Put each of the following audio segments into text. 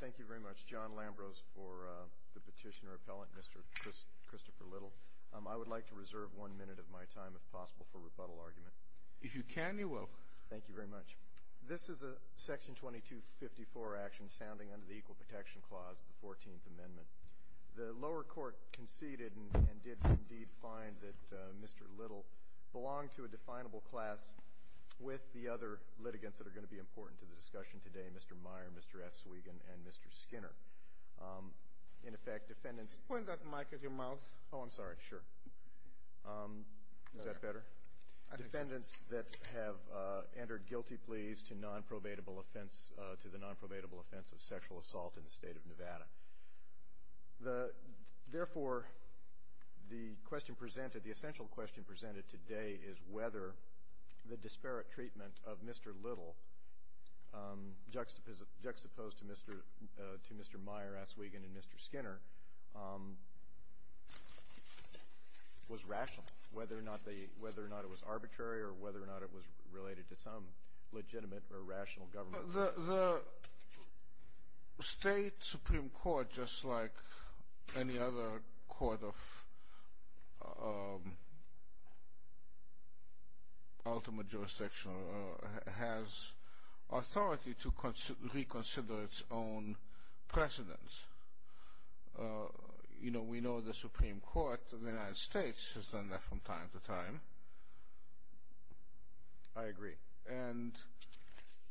Thank you very much. John Lambros for the petitioner appellant, Mr. Christopher Little. I would like to reserve one minute of my time, if possible, for rebuttal argument. If you can, you will. Thank you very much. This is a section 2254 action sounding under the Equal Protection Clause, the 14th Amendment. The lower court conceded and did indeed find that Mr. Little belonged to a definable class with the other litigants that are going to be important to the discussion today, Mr. Meyer, Mr. F. Swegan, and Mr. Skinner. In effect, defendants Point that mic at your mouth. Oh, I'm sorry. Sure. Is that better? Defendants that have entered guilty pleas to the nonprobable offense of sexual assault in the state of Nevada. Therefore, the question presented, the essential question presented today is whether the disparate treatment of Mr. Little, juxtaposed to Mr. Meyer, F. Swegan, and Mr. Skinner, was rational, whether or not it was arbitrary or whether or not it was related to some legitimate or rational government. The state Supreme Court, just like any other court of ultimate jurisdiction, has authority to reconsider its own precedents. You know, we know the Supreme Court of the United States has done that from time to time. I agree. And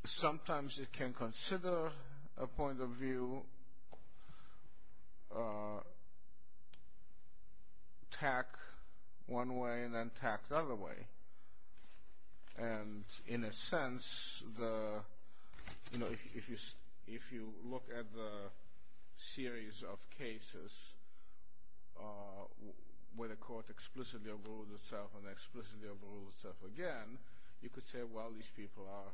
sometimes it can consider a point of view, tack one way and then tack the other way. And in a sense, if you look at the series of cases where the court explicitly overruled itself and explicitly overruled itself again, you could say, well, these people are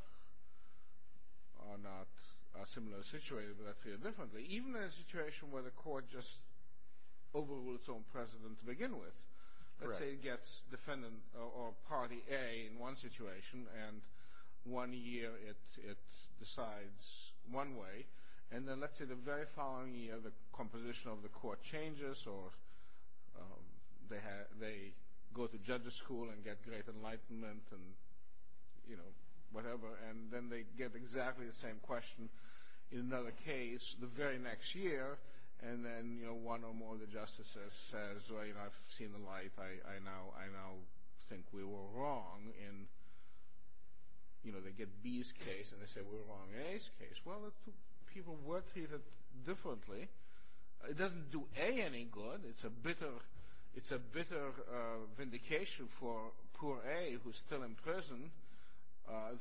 not a similar situation, but they're treated differently. Even in a situation where the court just overruled its own precedent to begin with, let's say it gets defendant or party A in one situation and one year it decides one way, and then let's say the very following year the composition of the court changes or they go to judge's school and get great enlightenment and, you know, whatever, and then they get exactly the same question in another case the very next year, and then, you know, one or more of the justices says, well, you know, I've seen the light. I now think we were wrong in, you know, they get B's case and they say we were wrong in A's case. Well, the two people were treated differently. It doesn't do A any good. It's a bitter vindication for poor A, who's still in prison,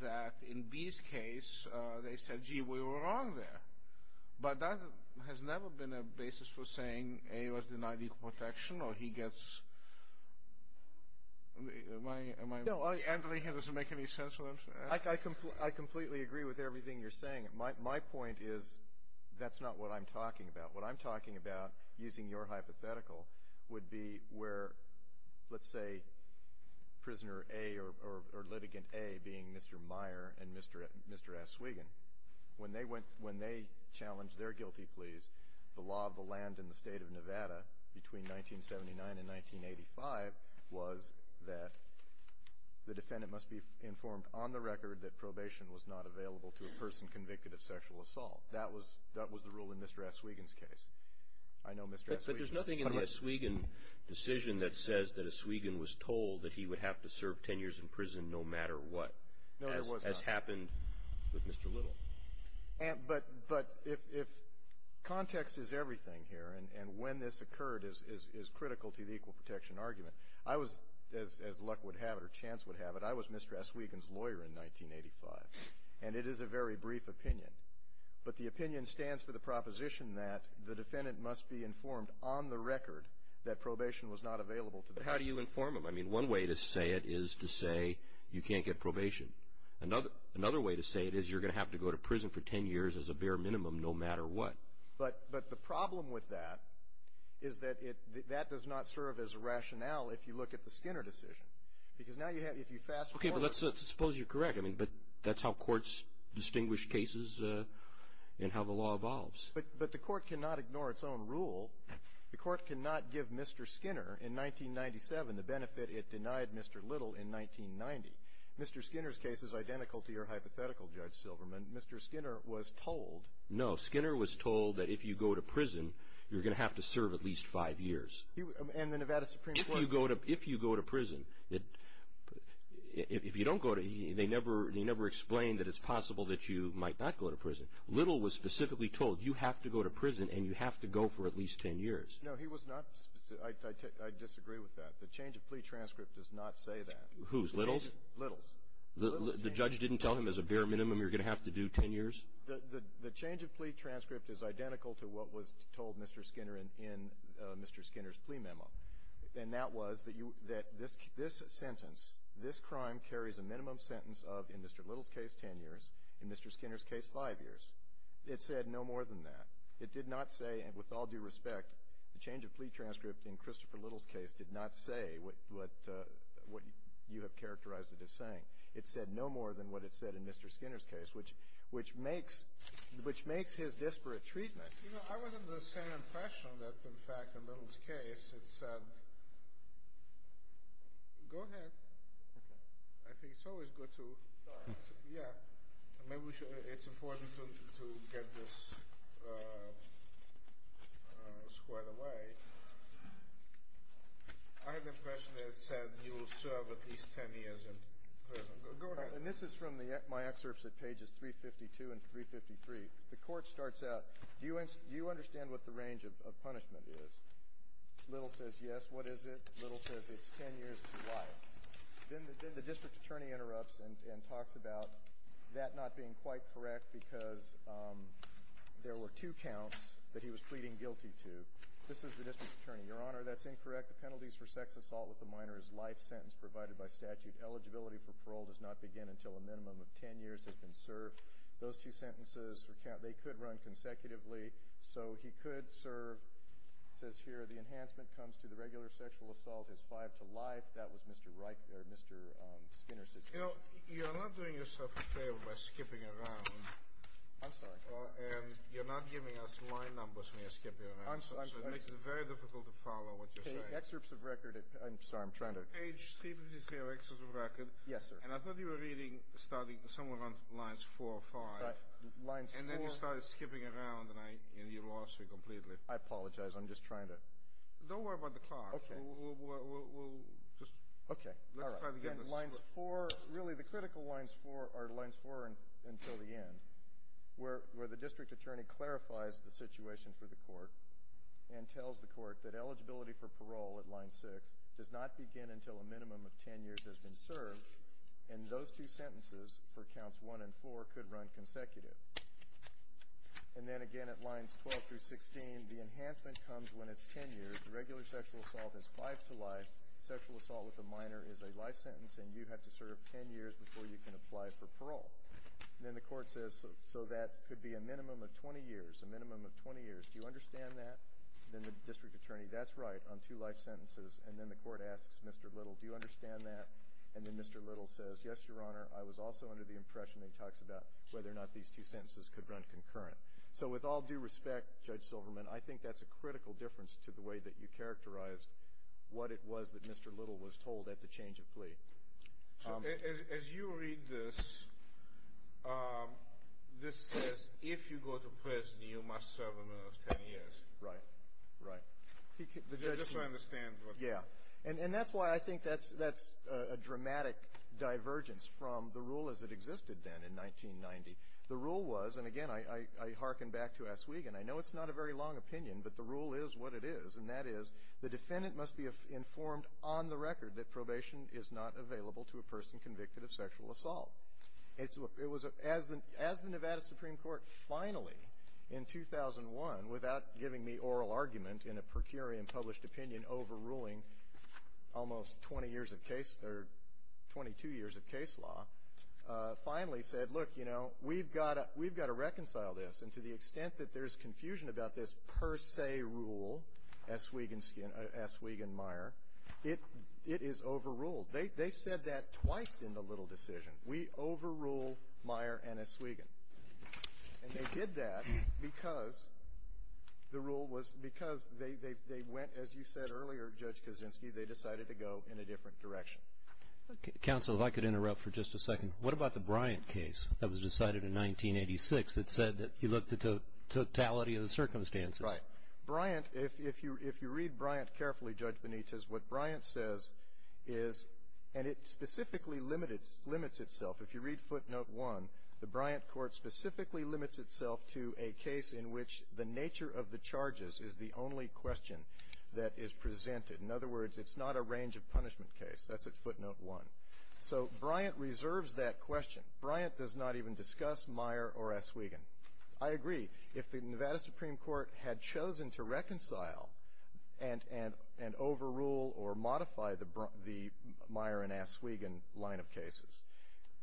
that in B's case they said, gee, we were wrong there. But that has never been a basis for saying A was denied equal protection or he gets... No, I completely agree with everything you're saying. My point is that's not what I'm talking about. What I'm talking about, using your hypothetical, would be where, let's say, prisoner A or litigant A being Mr. Meyer and Mr. Aswegan. When they went, when they challenged their guilty pleas, the law of the land in the state of Nevada between 1979 and 1985 was that the defendant must be informed on the record that probation was not available to a person convicted of sexual assault. That was, that was the rule in Mr. Aswegan's case. I know Mr. Aswegan... But there's nothing in the Aswegan decision that says that Aswegan was told that he would have to serve 10 years in prison no matter what. No, there was not. As happened with Mr. Little. But if context is everything here, and when this occurred is critical to the equal protection argument, I was, as luck would have it or chance would have it, I was Mr. Aswegan's lawyer in 1985. And it is a very brief opinion. But the opinion stands for the proposition that the defendant must be informed on the record that probation was not available to the defendant. But how do you inform him? I mean, one way to say it is to say you can't get probation. Another, another way to say it is you're going to have to go to prison for 10 years as a bare minimum no matter what. But, but the problem with that is that it, that does not serve as a rationale if you look at the Skinner decision. Because now you have, if you fast forward... Okay, but let's suppose you're correct. I mean, but that's how courts distinguish cases and how the law evolves. But, but the court cannot ignore its own rule. The court cannot give Mr. Skinner in 1997 the benefit it denied Mr. Little in 1990. Mr. Skinner's case is identical to your hypothetical, Judge Silverman. Mr. Skinner was told... No, Skinner was told that if you go to prison, you're going to have to serve at least five years. And the Nevada Supreme Court... If you go to, if you go to prison, it, if you don't go to, they never, they never explained that it's possible that you might not go to prison. Little was specifically told you have to go to prison and you have to go for at least 10 years. No, he was not, I, I disagree with that. The change of plea transcript does not say that. Who's? Little's? Little's. The, the judge didn't tell him as a bare minimum you're going to have to do 10 years? The change of plea transcript is identical to what was told Mr. Skinner in, in Mr. Skinner's plea memo. And that was that you, that this, this sentence, this crime carries a minimum sentence of, in Mr. Little's case, 10 years, in Mr. Skinner's case, five years. It said no more than that. It did not say, and with all due respect, the change of plea transcript in Christopher Little's case did not say what, what, what you have characterized it as saying. It said no more than what it said in Mr. Skinner's case, which, which makes, which makes his disparate treatment... You know, I wasn't the same impression that, in fact, in Little's case, it said, go ahead. Okay. I think it's always good to, yeah, maybe we should, it's important to, to get this squared away. I had the impression it said you will serve at least 10 years in prison. Go ahead. And this is from the, my excerpts at pages 352 and 353. The court starts out, do you, do you understand what the range of, of punishment is? Little says yes. What is it? Little says it's 10 years to life. Then the, then the district attorney interrupts and, and talks about that not being quite correct because there were two counts that he was pleading guilty to. This is the district attorney. Your Honor, that's incorrect. The penalties for sex assault with a minor is life sentence provided by statute. Eligibility for parole does not begin until a minimum of 10 years has been served. Those two sentences, they could run consecutively, so he could serve, says here, the enhancement comes to the regular sentence. The penalty for sexual assault is five to life. That was Mr. Reich, or Mr. Skinner's situation. You know, you're not doing yourself a favor by skipping around. I'm sorry. And you're not giving us line numbers when you're skipping around. I'm sorry. So it makes it very difficult to follow what you're saying. Okay, excerpts of record at, I'm sorry, I'm trying to. Page 353 are excerpts of record. Yes, sir. And I thought you were reading, starting somewhere around lines four or five. Lines four. And then you started skipping around and I, and you lost me completely. I apologize. I'm just trying to. Don't worry about the clock. Okay. We'll just. Okay. All right. Let's try to get this. Lines four, really the critical lines four are lines four until the end, where the district attorney clarifies the situation for the court and tells the court that eligibility for parole at line six does not begin until a minimum of 10 years has been served, and those two sentences for counts one and four could run consecutive. And then again at lines 12 through 16, the enhancement comes when it's 10 years. The regular sexual assault is five to life. Sexual assault with a minor is a life sentence, and you have to serve 10 years before you can apply for parole. And then the court says, so that could be a minimum of 20 years, a minimum of 20 years. Do you understand that? And then the district attorney, that's right, on two life sentences. And then the court asks Mr. Little, do you understand that? And then Mr. Little says, yes, your honor. I was also under the impression that he talks about whether or not these two sentences could run concurrent. So with all due respect, Judge Silverman, I think that's a critical difference to the way that you characterized what it was that Mr. Little was told at the change of plea. So as you read this, this says if you go to prison, you must serve a minimum of 10 years. Right. Right. Just so I understand. Yeah. And that's why I think that's a dramatic divergence from the rule as it existed then in 1990. The rule was, and again I hearken back to S. Wiegand, I know it's not a very long opinion, but the rule is what it is, and that is the defendant must be informed on the record that probation is not available to a person convicted of sexual assault. It was as the Nevada Supreme Court finally in 2001, without giving me oral argument in a per curiam published opinion overruling almost 20 years of case, or 22 years of case law, finally said, look, you know, we've got to reconcile this. And to the extent that there's confusion about this per se rule, S. Wiegand-Meyer, it is overruled. They said that twice in the Little decision. We overrule Meyer and S. Wiegand. And they did that because the rule was, because they went, as you said earlier, Judge Kaczynski, they decided to go in a different direction. Okay. Counsel, if I could interrupt for just a second. What about the Bryant case that was decided in 1986 that said that he looked at the totality of the circumstances? Right. Bryant, if you read Bryant carefully, Judge Benitez, what Bryant says is, and it specifically limits itself, if you read footnote one, the Bryant court specifically limits itself to a case in which the nature of the charges is the only question that is presented. In other words, it's not a range of punishment case. That's at footnote one. So Bryant reserves that question. Bryant does not even discuss Meyer or S. Wiegand. I agree. If the Nevada Supreme Court had chosen to reconcile and overrule or modify the Meyer and S. Wiegand line of cases,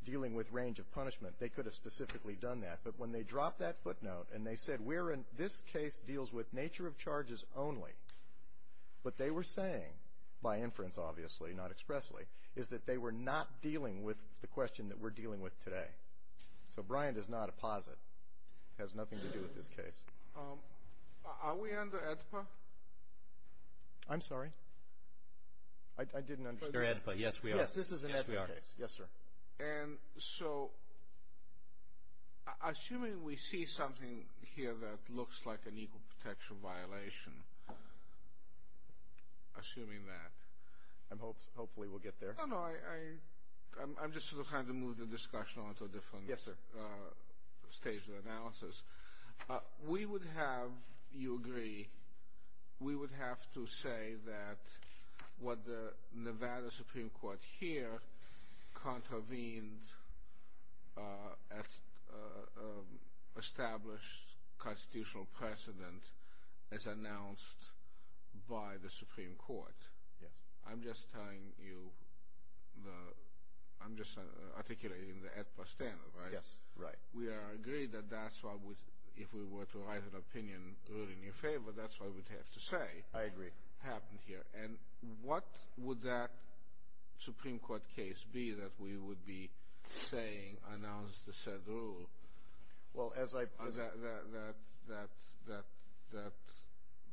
dealing with range of punishment, they could have specifically done that. But when they dropped that footnote and they said, we're in, this case deals with nature of charges only, what they were saying, by inference obviously, not expressly, is that they were not dealing with the question that we're dealing with today. So Bryant does not apposite. It has nothing to do with this case. Are we under AEDPA? I'm sorry? I didn't understand. Under AEDPA, yes we are. Yes, this is an AEDPA case. Yes, we are. Yes, sir. And so, assuming we see something here that looks like an equal protection violation, assuming that. Hopefully we'll get there. No, no, I'm just trying to move the discussion onto a different stage of analysis. Yes, sir. We would have, you agree, we would have to say that what the Nevada Supreme Court here contravened established constitutional precedent as announced by the Supreme Court. Yes. I'm just telling you, I'm just articulating the AEDPA standard, right? Yes, right. We are agreed that that's why, if we were to write an opinion ruling in your favor, that's what we'd have to say. I agree. Happened here. And what would that Supreme Court case be that we would be saying announced the said rule? Well, as I. That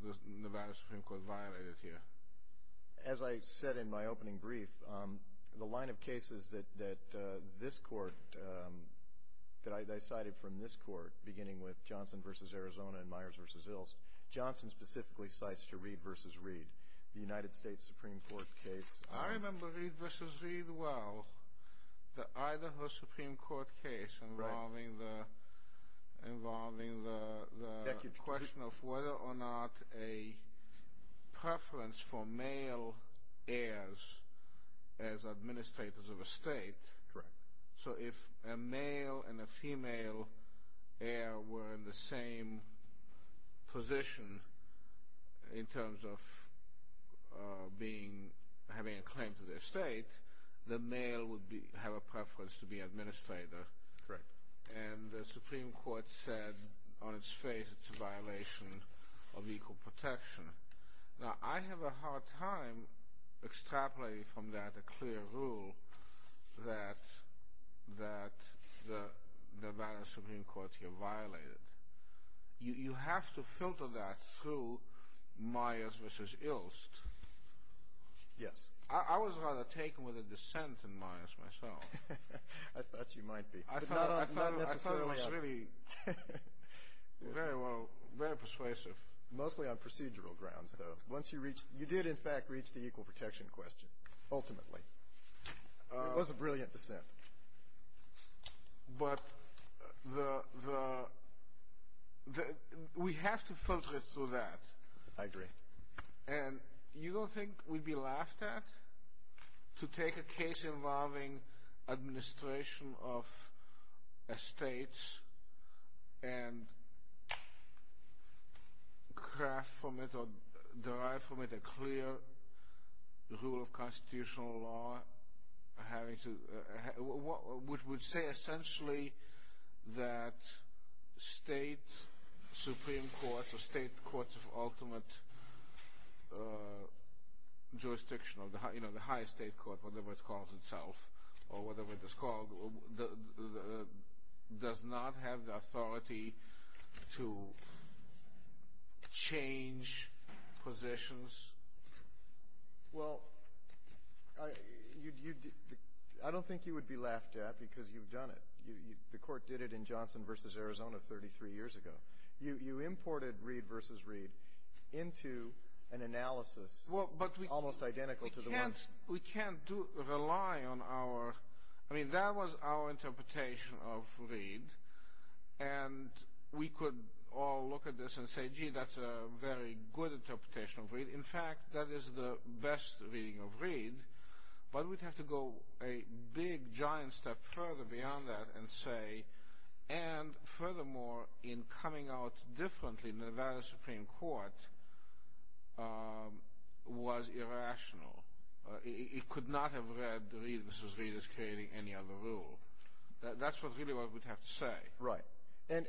the Nevada Supreme Court violated here. As I said in my opening brief, the line of cases that this court, that I cited from this court, beginning with Johnson v. Arizona and Myers v. Ilst, Johnson specifically cites to Reed v. Reed, the United States Supreme Court case. I remember Reed v. Reed well. The Idaho Supreme Court case involving the question of whether or not a preference for male heirs as administrators of a state. Correct. So if a male and a female heir were in the same position in terms of being, having a claim to their state, the male would have a preference to be administrator. Correct. And the Supreme Court said on its face it's a violation of equal protection. Now, I have a hard time extrapolating from that a clear rule that the Nevada Supreme Court here violated. You have to filter that through Myers v. Ilst. Yes. I was rather taken with a dissent in Myers myself. I thought you might be. I thought it was really very persuasive. Mostly on procedural grounds, though. Once you reached, you did in fact reach the equal protection question, ultimately. It was a brilliant dissent. But the, we have to filter it through that. I agree. And you don't think we'd be laughed at to take a case involving administration of a state and craft from it or derive from it a clear rule of constitutional law having to, which would say essentially that state Supreme Court or state courts of ultimate jurisdiction, you know, the highest state court, whatever it calls itself or whatever it is called, does not have the authority to change positions? Well, I don't think you would be laughed at because you've done it. The court did it in Johnson v. Arizona 33 years ago. You imported Reed v. Reed into an analysis almost identical to the one. We can't rely on our, I mean, that was our interpretation of Reed. And we could all look at this and say, gee, that's a very good interpretation of Reed. In fact, that is the best reading of Reed. But we'd have to go a big giant step further beyond that and say, and furthermore, in coming out differently, Nevada Supreme Court was irrational. It could not have read Reed v. Reed as creating any other rule. That's really what we'd have to say. Right. And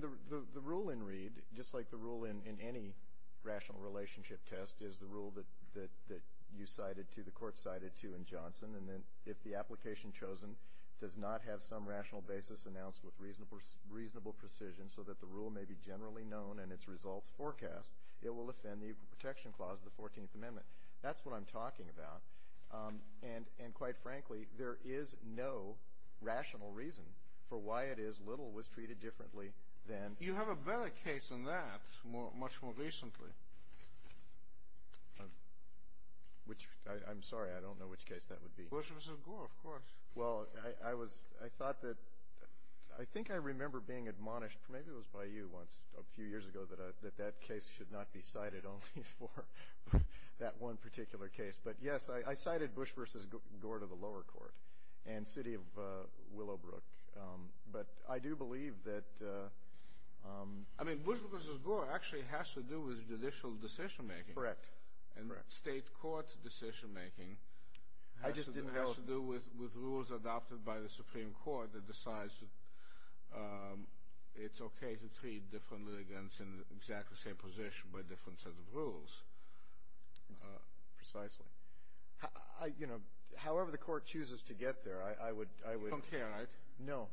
the rule in Reed, just like the rule in any rational relationship test, is the rule that you cited to, the court cited to in Johnson. And then if the application chosen does not have some rational basis announced with reasonable precision so that the rule may be generally known and its results forecast, it will offend the Equal Protection Clause of the 14th Amendment. That's what I'm talking about. And quite frankly, there is no rational reason for why it is Little was treated differently than. You have a better case than that much more recently. Which, I'm sorry, I don't know which case that would be. Bush v. Gore, of course. Well, I was, I thought that, I think I remember being admonished, maybe it was by you once, a few years ago, that that case should not be cited only for that one particular case. But yes, I cited Bush v. Gore to the lower court and city of Willowbrook. But I do believe that. I mean, Bush v. Gore actually has to do with judicial decision-making. Correct. And state court decision-making has to do with rules adopted by the Supreme Court that decides it's okay to treat different litigants in exactly the same position by different sets of rules. Precisely. You know, however the court chooses to get there, I would. Don't care, right? No.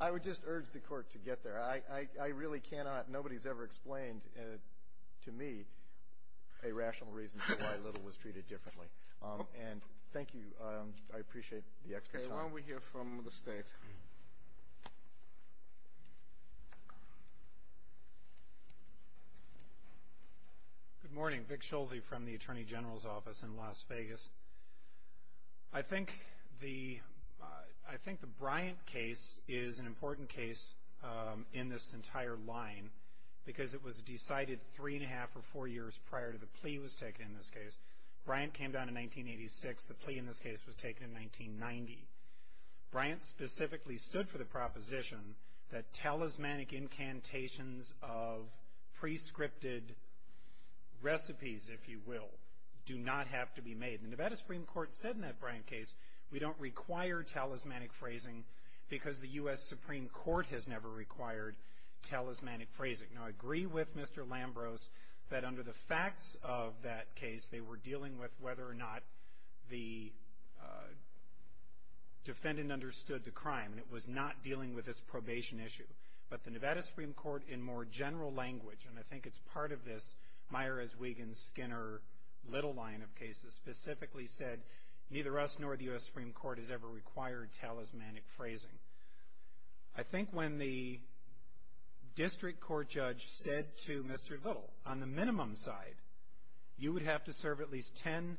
I would just urge the court to get there. I really cannot. Nobody's ever explained to me a rational reason why Little was treated differently. And thank you. I appreciate the extra time. Why don't we hear from the state? Good morning. Vic Schulze from the Attorney General's Office in Las Vegas. I think the Bryant case is an important case in this entire line because it was decided three and a half or four years prior to the plea was taken in this case. Bryant came down in 1986. The plea in this case was taken in 1990. Bryant specifically stood for the proposition that talismanic incantations of prescripted recipes, if you will, do not have to be made. The Nevada Supreme Court said in that Bryant case we don't require talismanic phrasing because the U.S. Supreme Court has never required talismanic phrasing. Now, I agree with Mr. Lambros that under the facts of that case, they were dealing with whether or not the defendant understood the crime. And it was not dealing with this probation issue. But the Nevada Supreme Court in more general language, and I think it's part of this as Wiggins, Skinner, Little line of cases specifically said, neither us nor the U.S. Supreme Court has ever required talismanic phrasing. I think when the district court judge said to Mr. Little, on the minimum side, you would have to serve at least 10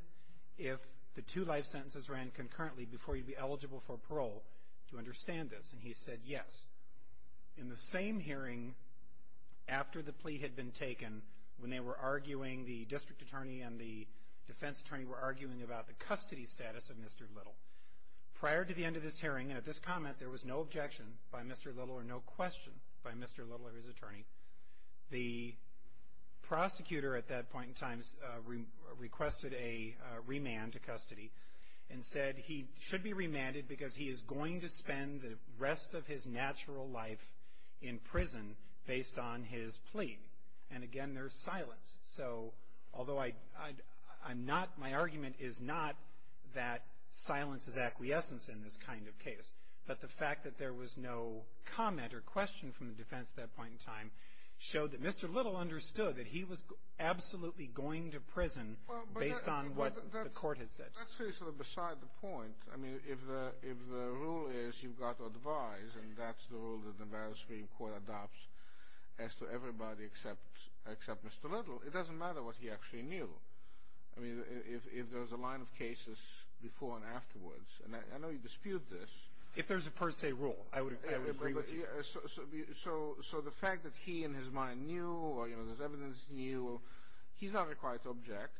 if the two life sentences ran concurrently before you'd be eligible for parole to understand this, and he said yes. In the same hearing after the plea had been taken, when they were arguing, the district attorney and the defense attorney were arguing about the custody status of Mr. Little. Prior to the end of this hearing and at this comment, there was no objection by Mr. Little or no question by Mr. Little or his attorney. The prosecutor at that point in time requested a remand to custody and said he should be remanded because he is going to spend the rest of his natural life in prison based on his plea. And again, there's silence. So although I'm not, my argument is not that silence is acquiescence in this kind of case, but the fact that there was no comment or question from the defense at that point in time showed that Mr. Little understood that he was absolutely going to prison based on what the court had said. Well, that's really sort of beside the point. I mean, if the rule is you've got to advise, and that's the rule that the Valley Supreme Court adopts as to everybody except Mr. Little, it doesn't matter what he actually knew. I mean, if there's a line of cases before and afterwards, and I know you dispute this. If there's a per se rule, I would agree with you. So the fact that he in his mind knew or there's evidence in you, he's not a quiet object,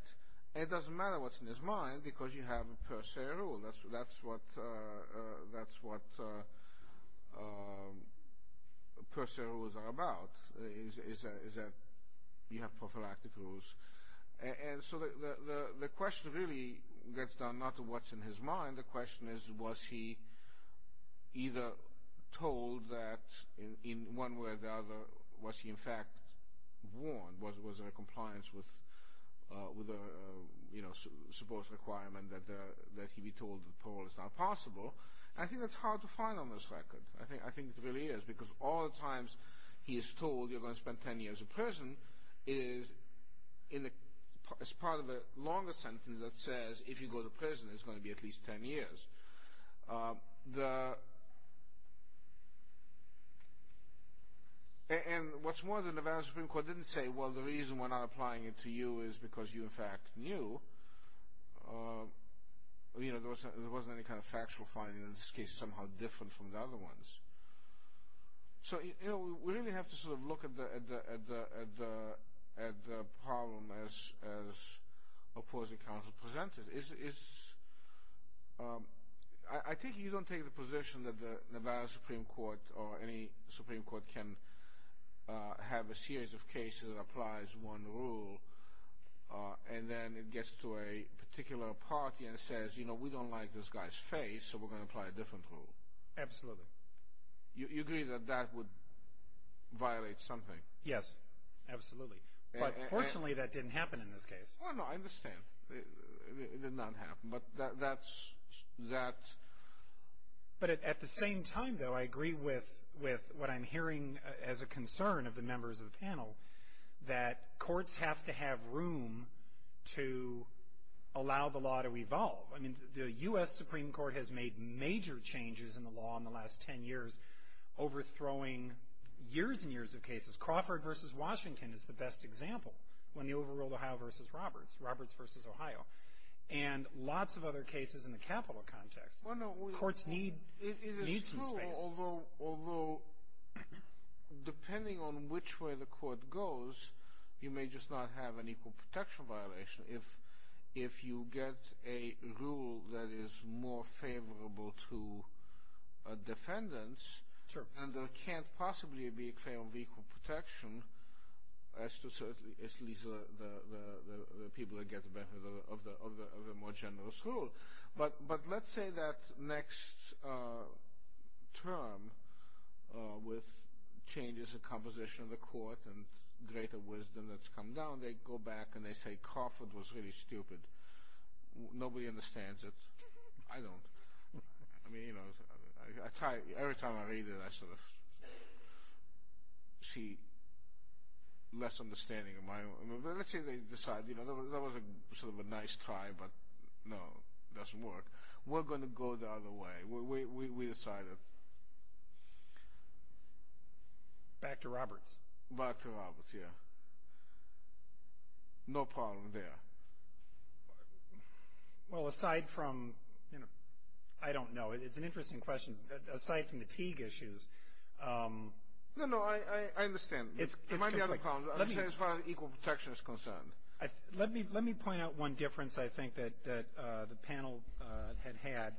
and it doesn't matter what's in his mind, because you have a per se rule. That's what per se rules are about, is that you have prophylactic rules. And so the question really gets down not to what's in his mind. The question is was he either told that in one way or the other, was he in fact warned? Was there a compliance with a supposed requirement that he be told parole is not possible? I think that's hard to find on this record. I think it really is, because all the times he is told you're going to spend 10 years in prison, it is part of a longer sentence that says if you go to prison it's going to be at least 10 years. And what's more, the Nevada Supreme Court didn't say, well, the reason we're not applying it to you is because you in fact knew. There wasn't any kind of factual finding in this case somehow different from the other ones. So we really have to sort of look at the problem as opposing counsel presented it. I think you don't take the position that the Nevada Supreme Court or any Supreme Court can have a series of cases that applies one rule and then it gets to a particular party and says, you know, we don't like this guy's face, so we're going to apply a different rule. Absolutely. You agree that that would violate something? Yes, absolutely. But fortunately that didn't happen in this case. Oh, no, I understand. It did not happen, but that's... But at the same time, though, I agree with what I'm hearing as a concern of the members of the panel, that courts have to have room to allow the law to evolve. I mean, the U.S. Supreme Court has made major changes in the law in the last 10 years, overthrowing years and years of cases. Crawford v. Washington is the best example, when they overruled Ohio v. Roberts, Roberts v. Ohio, and lots of other cases in the capital context. Courts need some space. Although, depending on which way the court goes, you may just not have an equal protection violation if you get a rule that is more favorable to defendants. Sure. And there can't possibly be a claim of equal protection as to at least the people that get the benefit of the more generous rule. But let's say that next term, with changes in composition of the court and greater wisdom that's come down, they go back and they say Crawford was really stupid. Nobody understands it. I don't. I mean, you know, every time I read it, I sort of see less understanding. Let's say they decide, you know, that was sort of a nice try, but no, it doesn't work. We're going to go the other way. We decide it. Back to Roberts. Back to Roberts, yeah. No problem there. Well, aside from, you know, I don't know. It's an interesting question. Aside from the Teague issues. No, no. I understand. There might be other problems. I understand as far as equal protection is concerned. Let me point out one difference, I think, that the panel had had.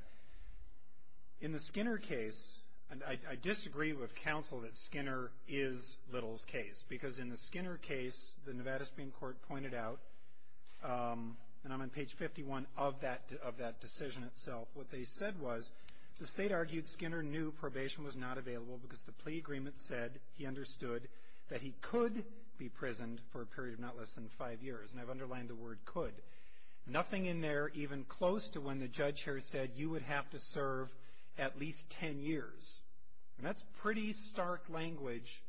In the Skinner case, and I disagree with counsel that Skinner is Little's case, because in the Skinner case, the Nevada Supreme Court pointed out, and I'm on page 51 of that decision itself, what they said was, the state argued Skinner knew probation was not available because the plea agreement said he understood that he could be prisoned for a period of not less than five years. And I've underlined the word could. Nothing in there even close to when the judge here said you would have to serve at least ten years. And that's pretty stark language.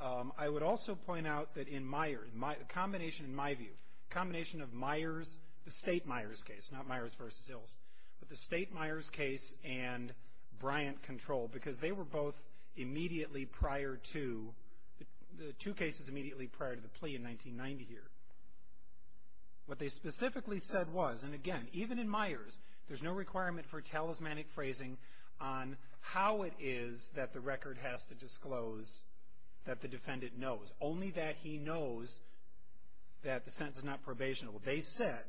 I would also point out that in Meyer, a combination in my view, a combination of Meyer's, the state Meyer's case, not Meyer's v. Ilse, but the state Meyer's case and Bryant control, because they were both immediately prior to, the two cases immediately prior to the plea in 1990 here. What they specifically said was, and again, even in Meyer's, there's no requirement for talismanic phrasing on how it is that the record has to disclose that the defendant knows, only that he knows that the sentence is not probationable. They said,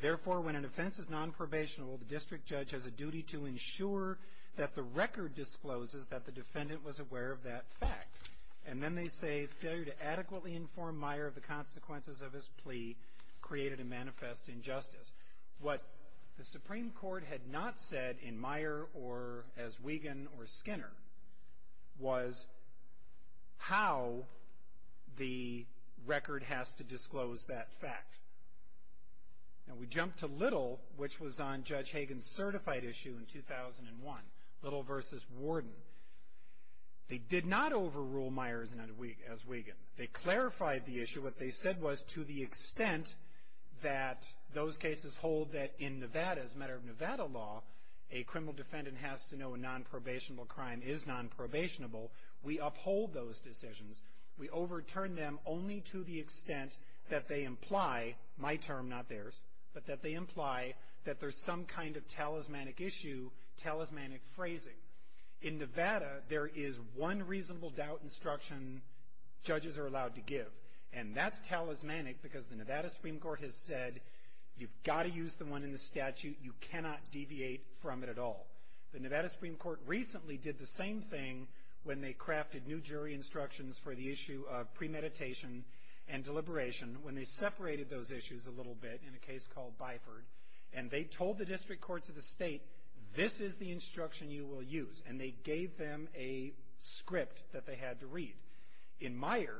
therefore, when an offense is nonprobationable, the district judge has a duty to ensure that the record discloses that the defendant was aware of that fact. And then they say, failure to adequately inform Meyer of the consequences of his plea created a manifest injustice. What the Supreme Court had not said in Meyer or as Wiegand or Skinner was how the record has to disclose that fact. Now we jump to Little, which was on Judge Hagan's certified issue in 2001, Little v. Warden. They did not overrule Meyer as Wiegand. They clarified the issue. What they said was to the extent that those cases hold that in Nevada, as a matter of Nevada law, a criminal defendant has to know a nonprobationable crime is nonprobationable. We uphold those decisions. We overturn them only to the extent that they imply my term, not theirs, but that they imply that there's some kind of talismanic issue, talismanic phrasing. In Nevada, there is one reasonable doubt instruction judges are allowed to give, and that's talismanic because the Nevada Supreme Court has said you've got to use the one in the statute. You cannot deviate from it at all. The Nevada Supreme Court recently did the same thing when they crafted new jury instructions for the issue of premeditation and deliberation when they separated those issues a little bit in a case called Byford, and they told the district courts of the state this is the instruction you will use, and they gave them a script that they had to read. In Meyer,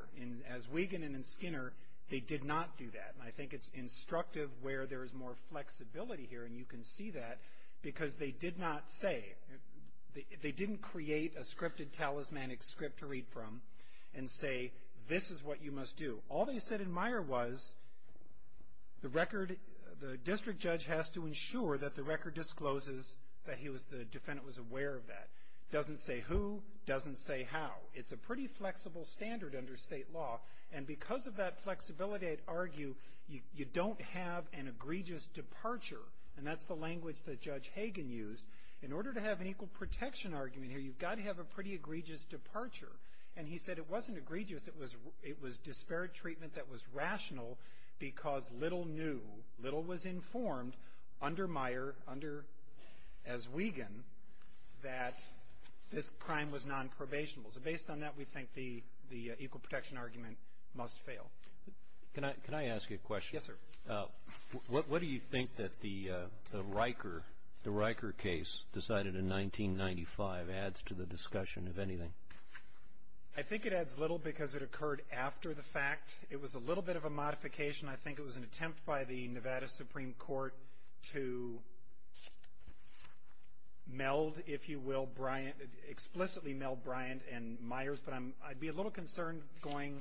as Wiegand and in Skinner, they did not do that, and I think it's instructive where there is more flexibility here, and you can see that because they did not say, they didn't create a scripted talismanic script to read from and say this is what you must do. All they said in Meyer was the record, the district judge has to ensure that the record discloses that he was, the defendant was aware of that. Doesn't say who, doesn't say how. It's a pretty flexible standard under state law, and because of that flexibility, I'd argue you don't have an egregious departure, and that's the language that Judge Hagan used. In order to have an equal protection argument here, you've got to have a pretty egregious departure, and he said it wasn't egregious, it was disparate treatment that was rational because little knew, little was informed under Meyer, under, as Wiegand, that this crime was nonprobational. So based on that, we think the equal protection argument must fail. Can I ask you a question? Yes, sir. What do you think that the Riker, the Riker case decided in 1995 adds to the discussion of anything? I think it adds little because it occurred after the fact. It was a little bit of a modification. I think it was an attempt by the Nevada Supreme Court to meld, if you will, Bryant, explicitly meld Bryant and Myers, but I'd be a little concerned going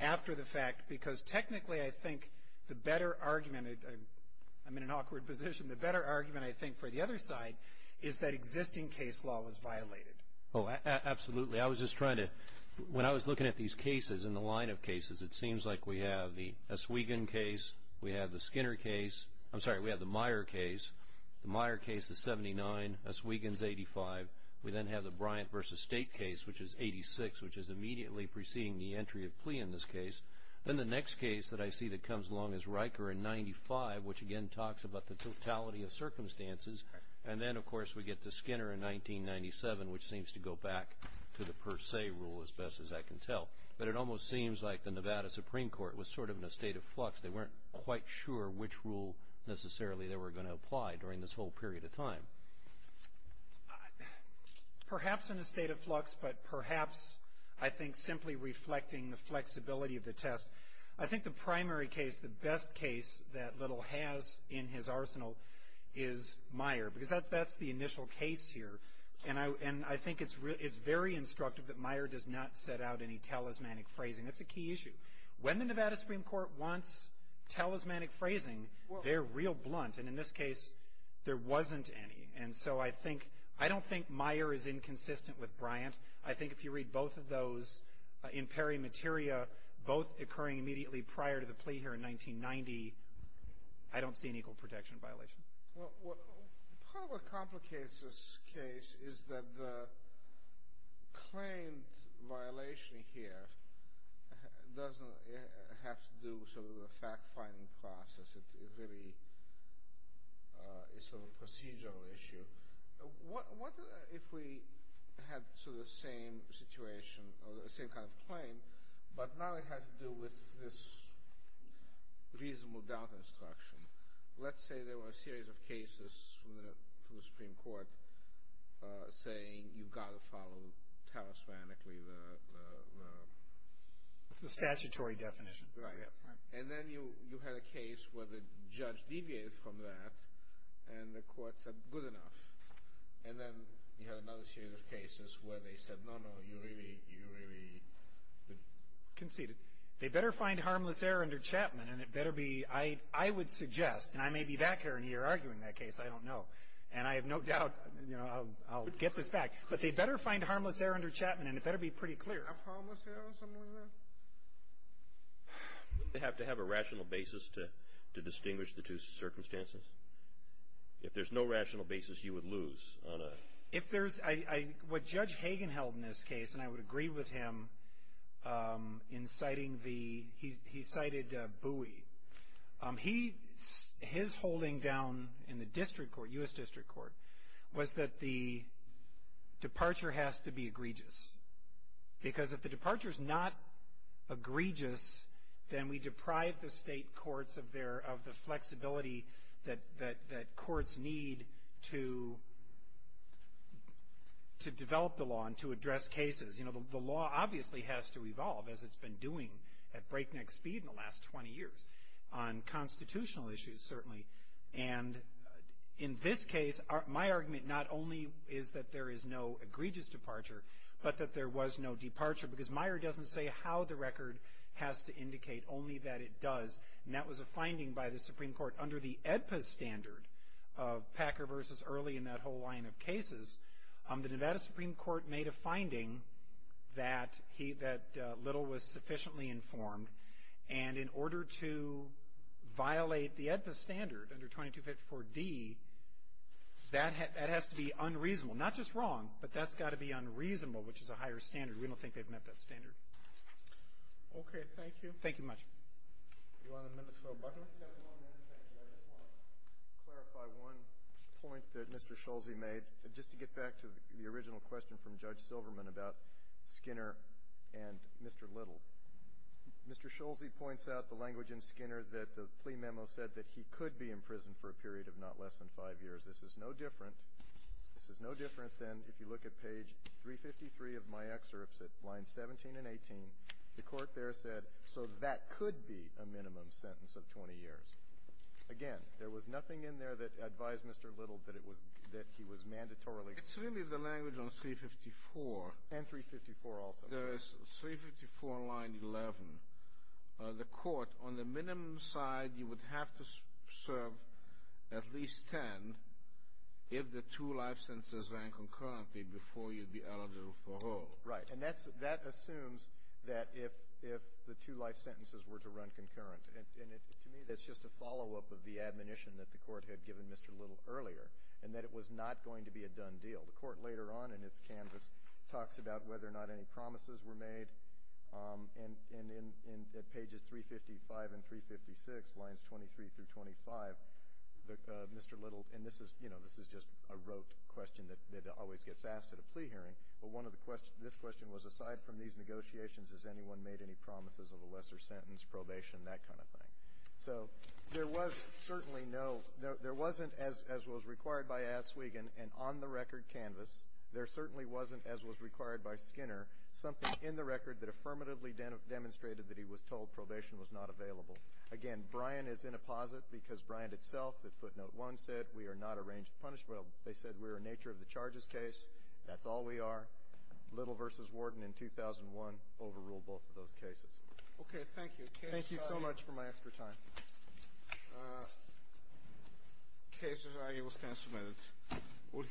after the fact because technically I think the better argument, I'm in an awkward position, the better argument I think for the other side is that existing case law was violated. Oh, absolutely. I was just trying to when I was looking at these cases in the line of cases it seems like we have the S. Wiegand case, we have the Skinner case, I'm sorry, we have the Meyer case, the Meyer case is 79, S. Wiegand is 85, we then have the Bryant v. State case which is 86 which is immediately preceding the entry of plea in this case. Then the next case that I see that comes along is Riker in 95 which again talks about the totality of circumstances and then of course we get to Skinner in 1997 which seems to go back to the per se rule as best as I can tell. But it almost seems like the Nevada Supreme Court was sort of in a state of flux. They weren't quite sure which rule necessarily they were going to apply during this whole period of time. Perhaps in a state of flux but perhaps I think simply reflecting the flexibility of the test. I think the primary case, the best case that Little has in his arsenal is Meyer because that's the initial case here and I think it's very instructive that Meyer does not set out any talismanic phrasing. That's a key issue. When the Nevada Supreme Court wants talismanic phrasing, they're real blunt and in this case there wasn't any and so I think I don't think Meyer is inconsistent with Bryant. I think if you read both of those in peri materia both occurring immediately prior to the plea here in 1990 I don't see an equal protection violation. Well, part of what complicates this case is that the claimed violation here doesn't have to do with the fact finding process. It really is a sort of procedural issue. What if we had the same situation or the same kind of claim but now it had to do with this reasonable doubt instruction? Let's say there were a series of cases from the Supreme Court you've got to tariffs manically. It's the statutory definition. Right. And then you had a case where the judge deviated from that and the court said good enough and then you had another series of cases where they said no no you really conceded. They better find harmless error under Chapman and it better be I would suggest and I may be back here arguing that case I don't know and I have no doubt I'll get this back but they better find harmless error under Chapman and it better be pretty clear. Would they have to have a rational basis to distinguish the two circumstances? If there's no rational basis you would lose on a If there's I what Judge Hagen held in this case and I would agree with him in citing the he cited Bowie he his holding down in the district court U.S. District Court was that the flexibility that that courts need to to develop the law and to address cases you know the law obviously has to evolve as it's been doing at breakneck speed in the last 20 years on constitutional issues certainly and in this case my argument not only is that there is no egregious departure but that there was no departure because Meyer doesn't say how the record has to indicate only that it does and that was a finding by the Supreme Court under the EDPA standard of Packer versus Early in that whole line of cases the Nevada Supreme Court made a finding that that Little was sufficiently informed and in order to violate the EDPA standard under 2254d that has to be unreasonable not just wrong but that's got to be unreasonable which is a higher standard we don't think they've met that standard okay thank you thank you much you want to clarify one point that Mr. Schulze made just to get back to the original question from Judge Silverman about Skinner and Mr. Little Mr. Schulze points out the language in Skinner that the plea memo said that he could be in prison for a period of not less than 5 years this is no different this is no different than if you look at page 353 of my excerpts at lines 17 and 18 the court there said so that could be a minimum sentence of 20 years again there was nothing in there that advised Mr. Little that it would have to serve at least 10 if the two life sentences ran concurrently before you'd be eligible for parole right and that assumes that if the two life sentences were to run concurrent and to me that's just a follow up of the admonition that the court had given Mr. Little earlier and that it was not going to be a done deal the court later on in its canvas talks about whether or not any promises were made and in pages 355 and 356 lines 23 through 25 Mr. Little and this is just a rote question that always gets asked at a plea hearing but this question was aside from these negotiations has anyone made any promises of a lesser sentence probation that kind of thing so there was certainly no there wasn't as was required by Aswegen and on the record canvas there certainly wasn't as was required by Skinner something in the record that affirmatively demonstrated that he was told probation was not available again Brian is in a posit because Brian itself at footnote one said we are not arranged punishment they said we were nature of the charges case that's all we are Little versus Warden in 2001 overruled both of those cases okay thank you thank you so much for my extra time uh cases are able to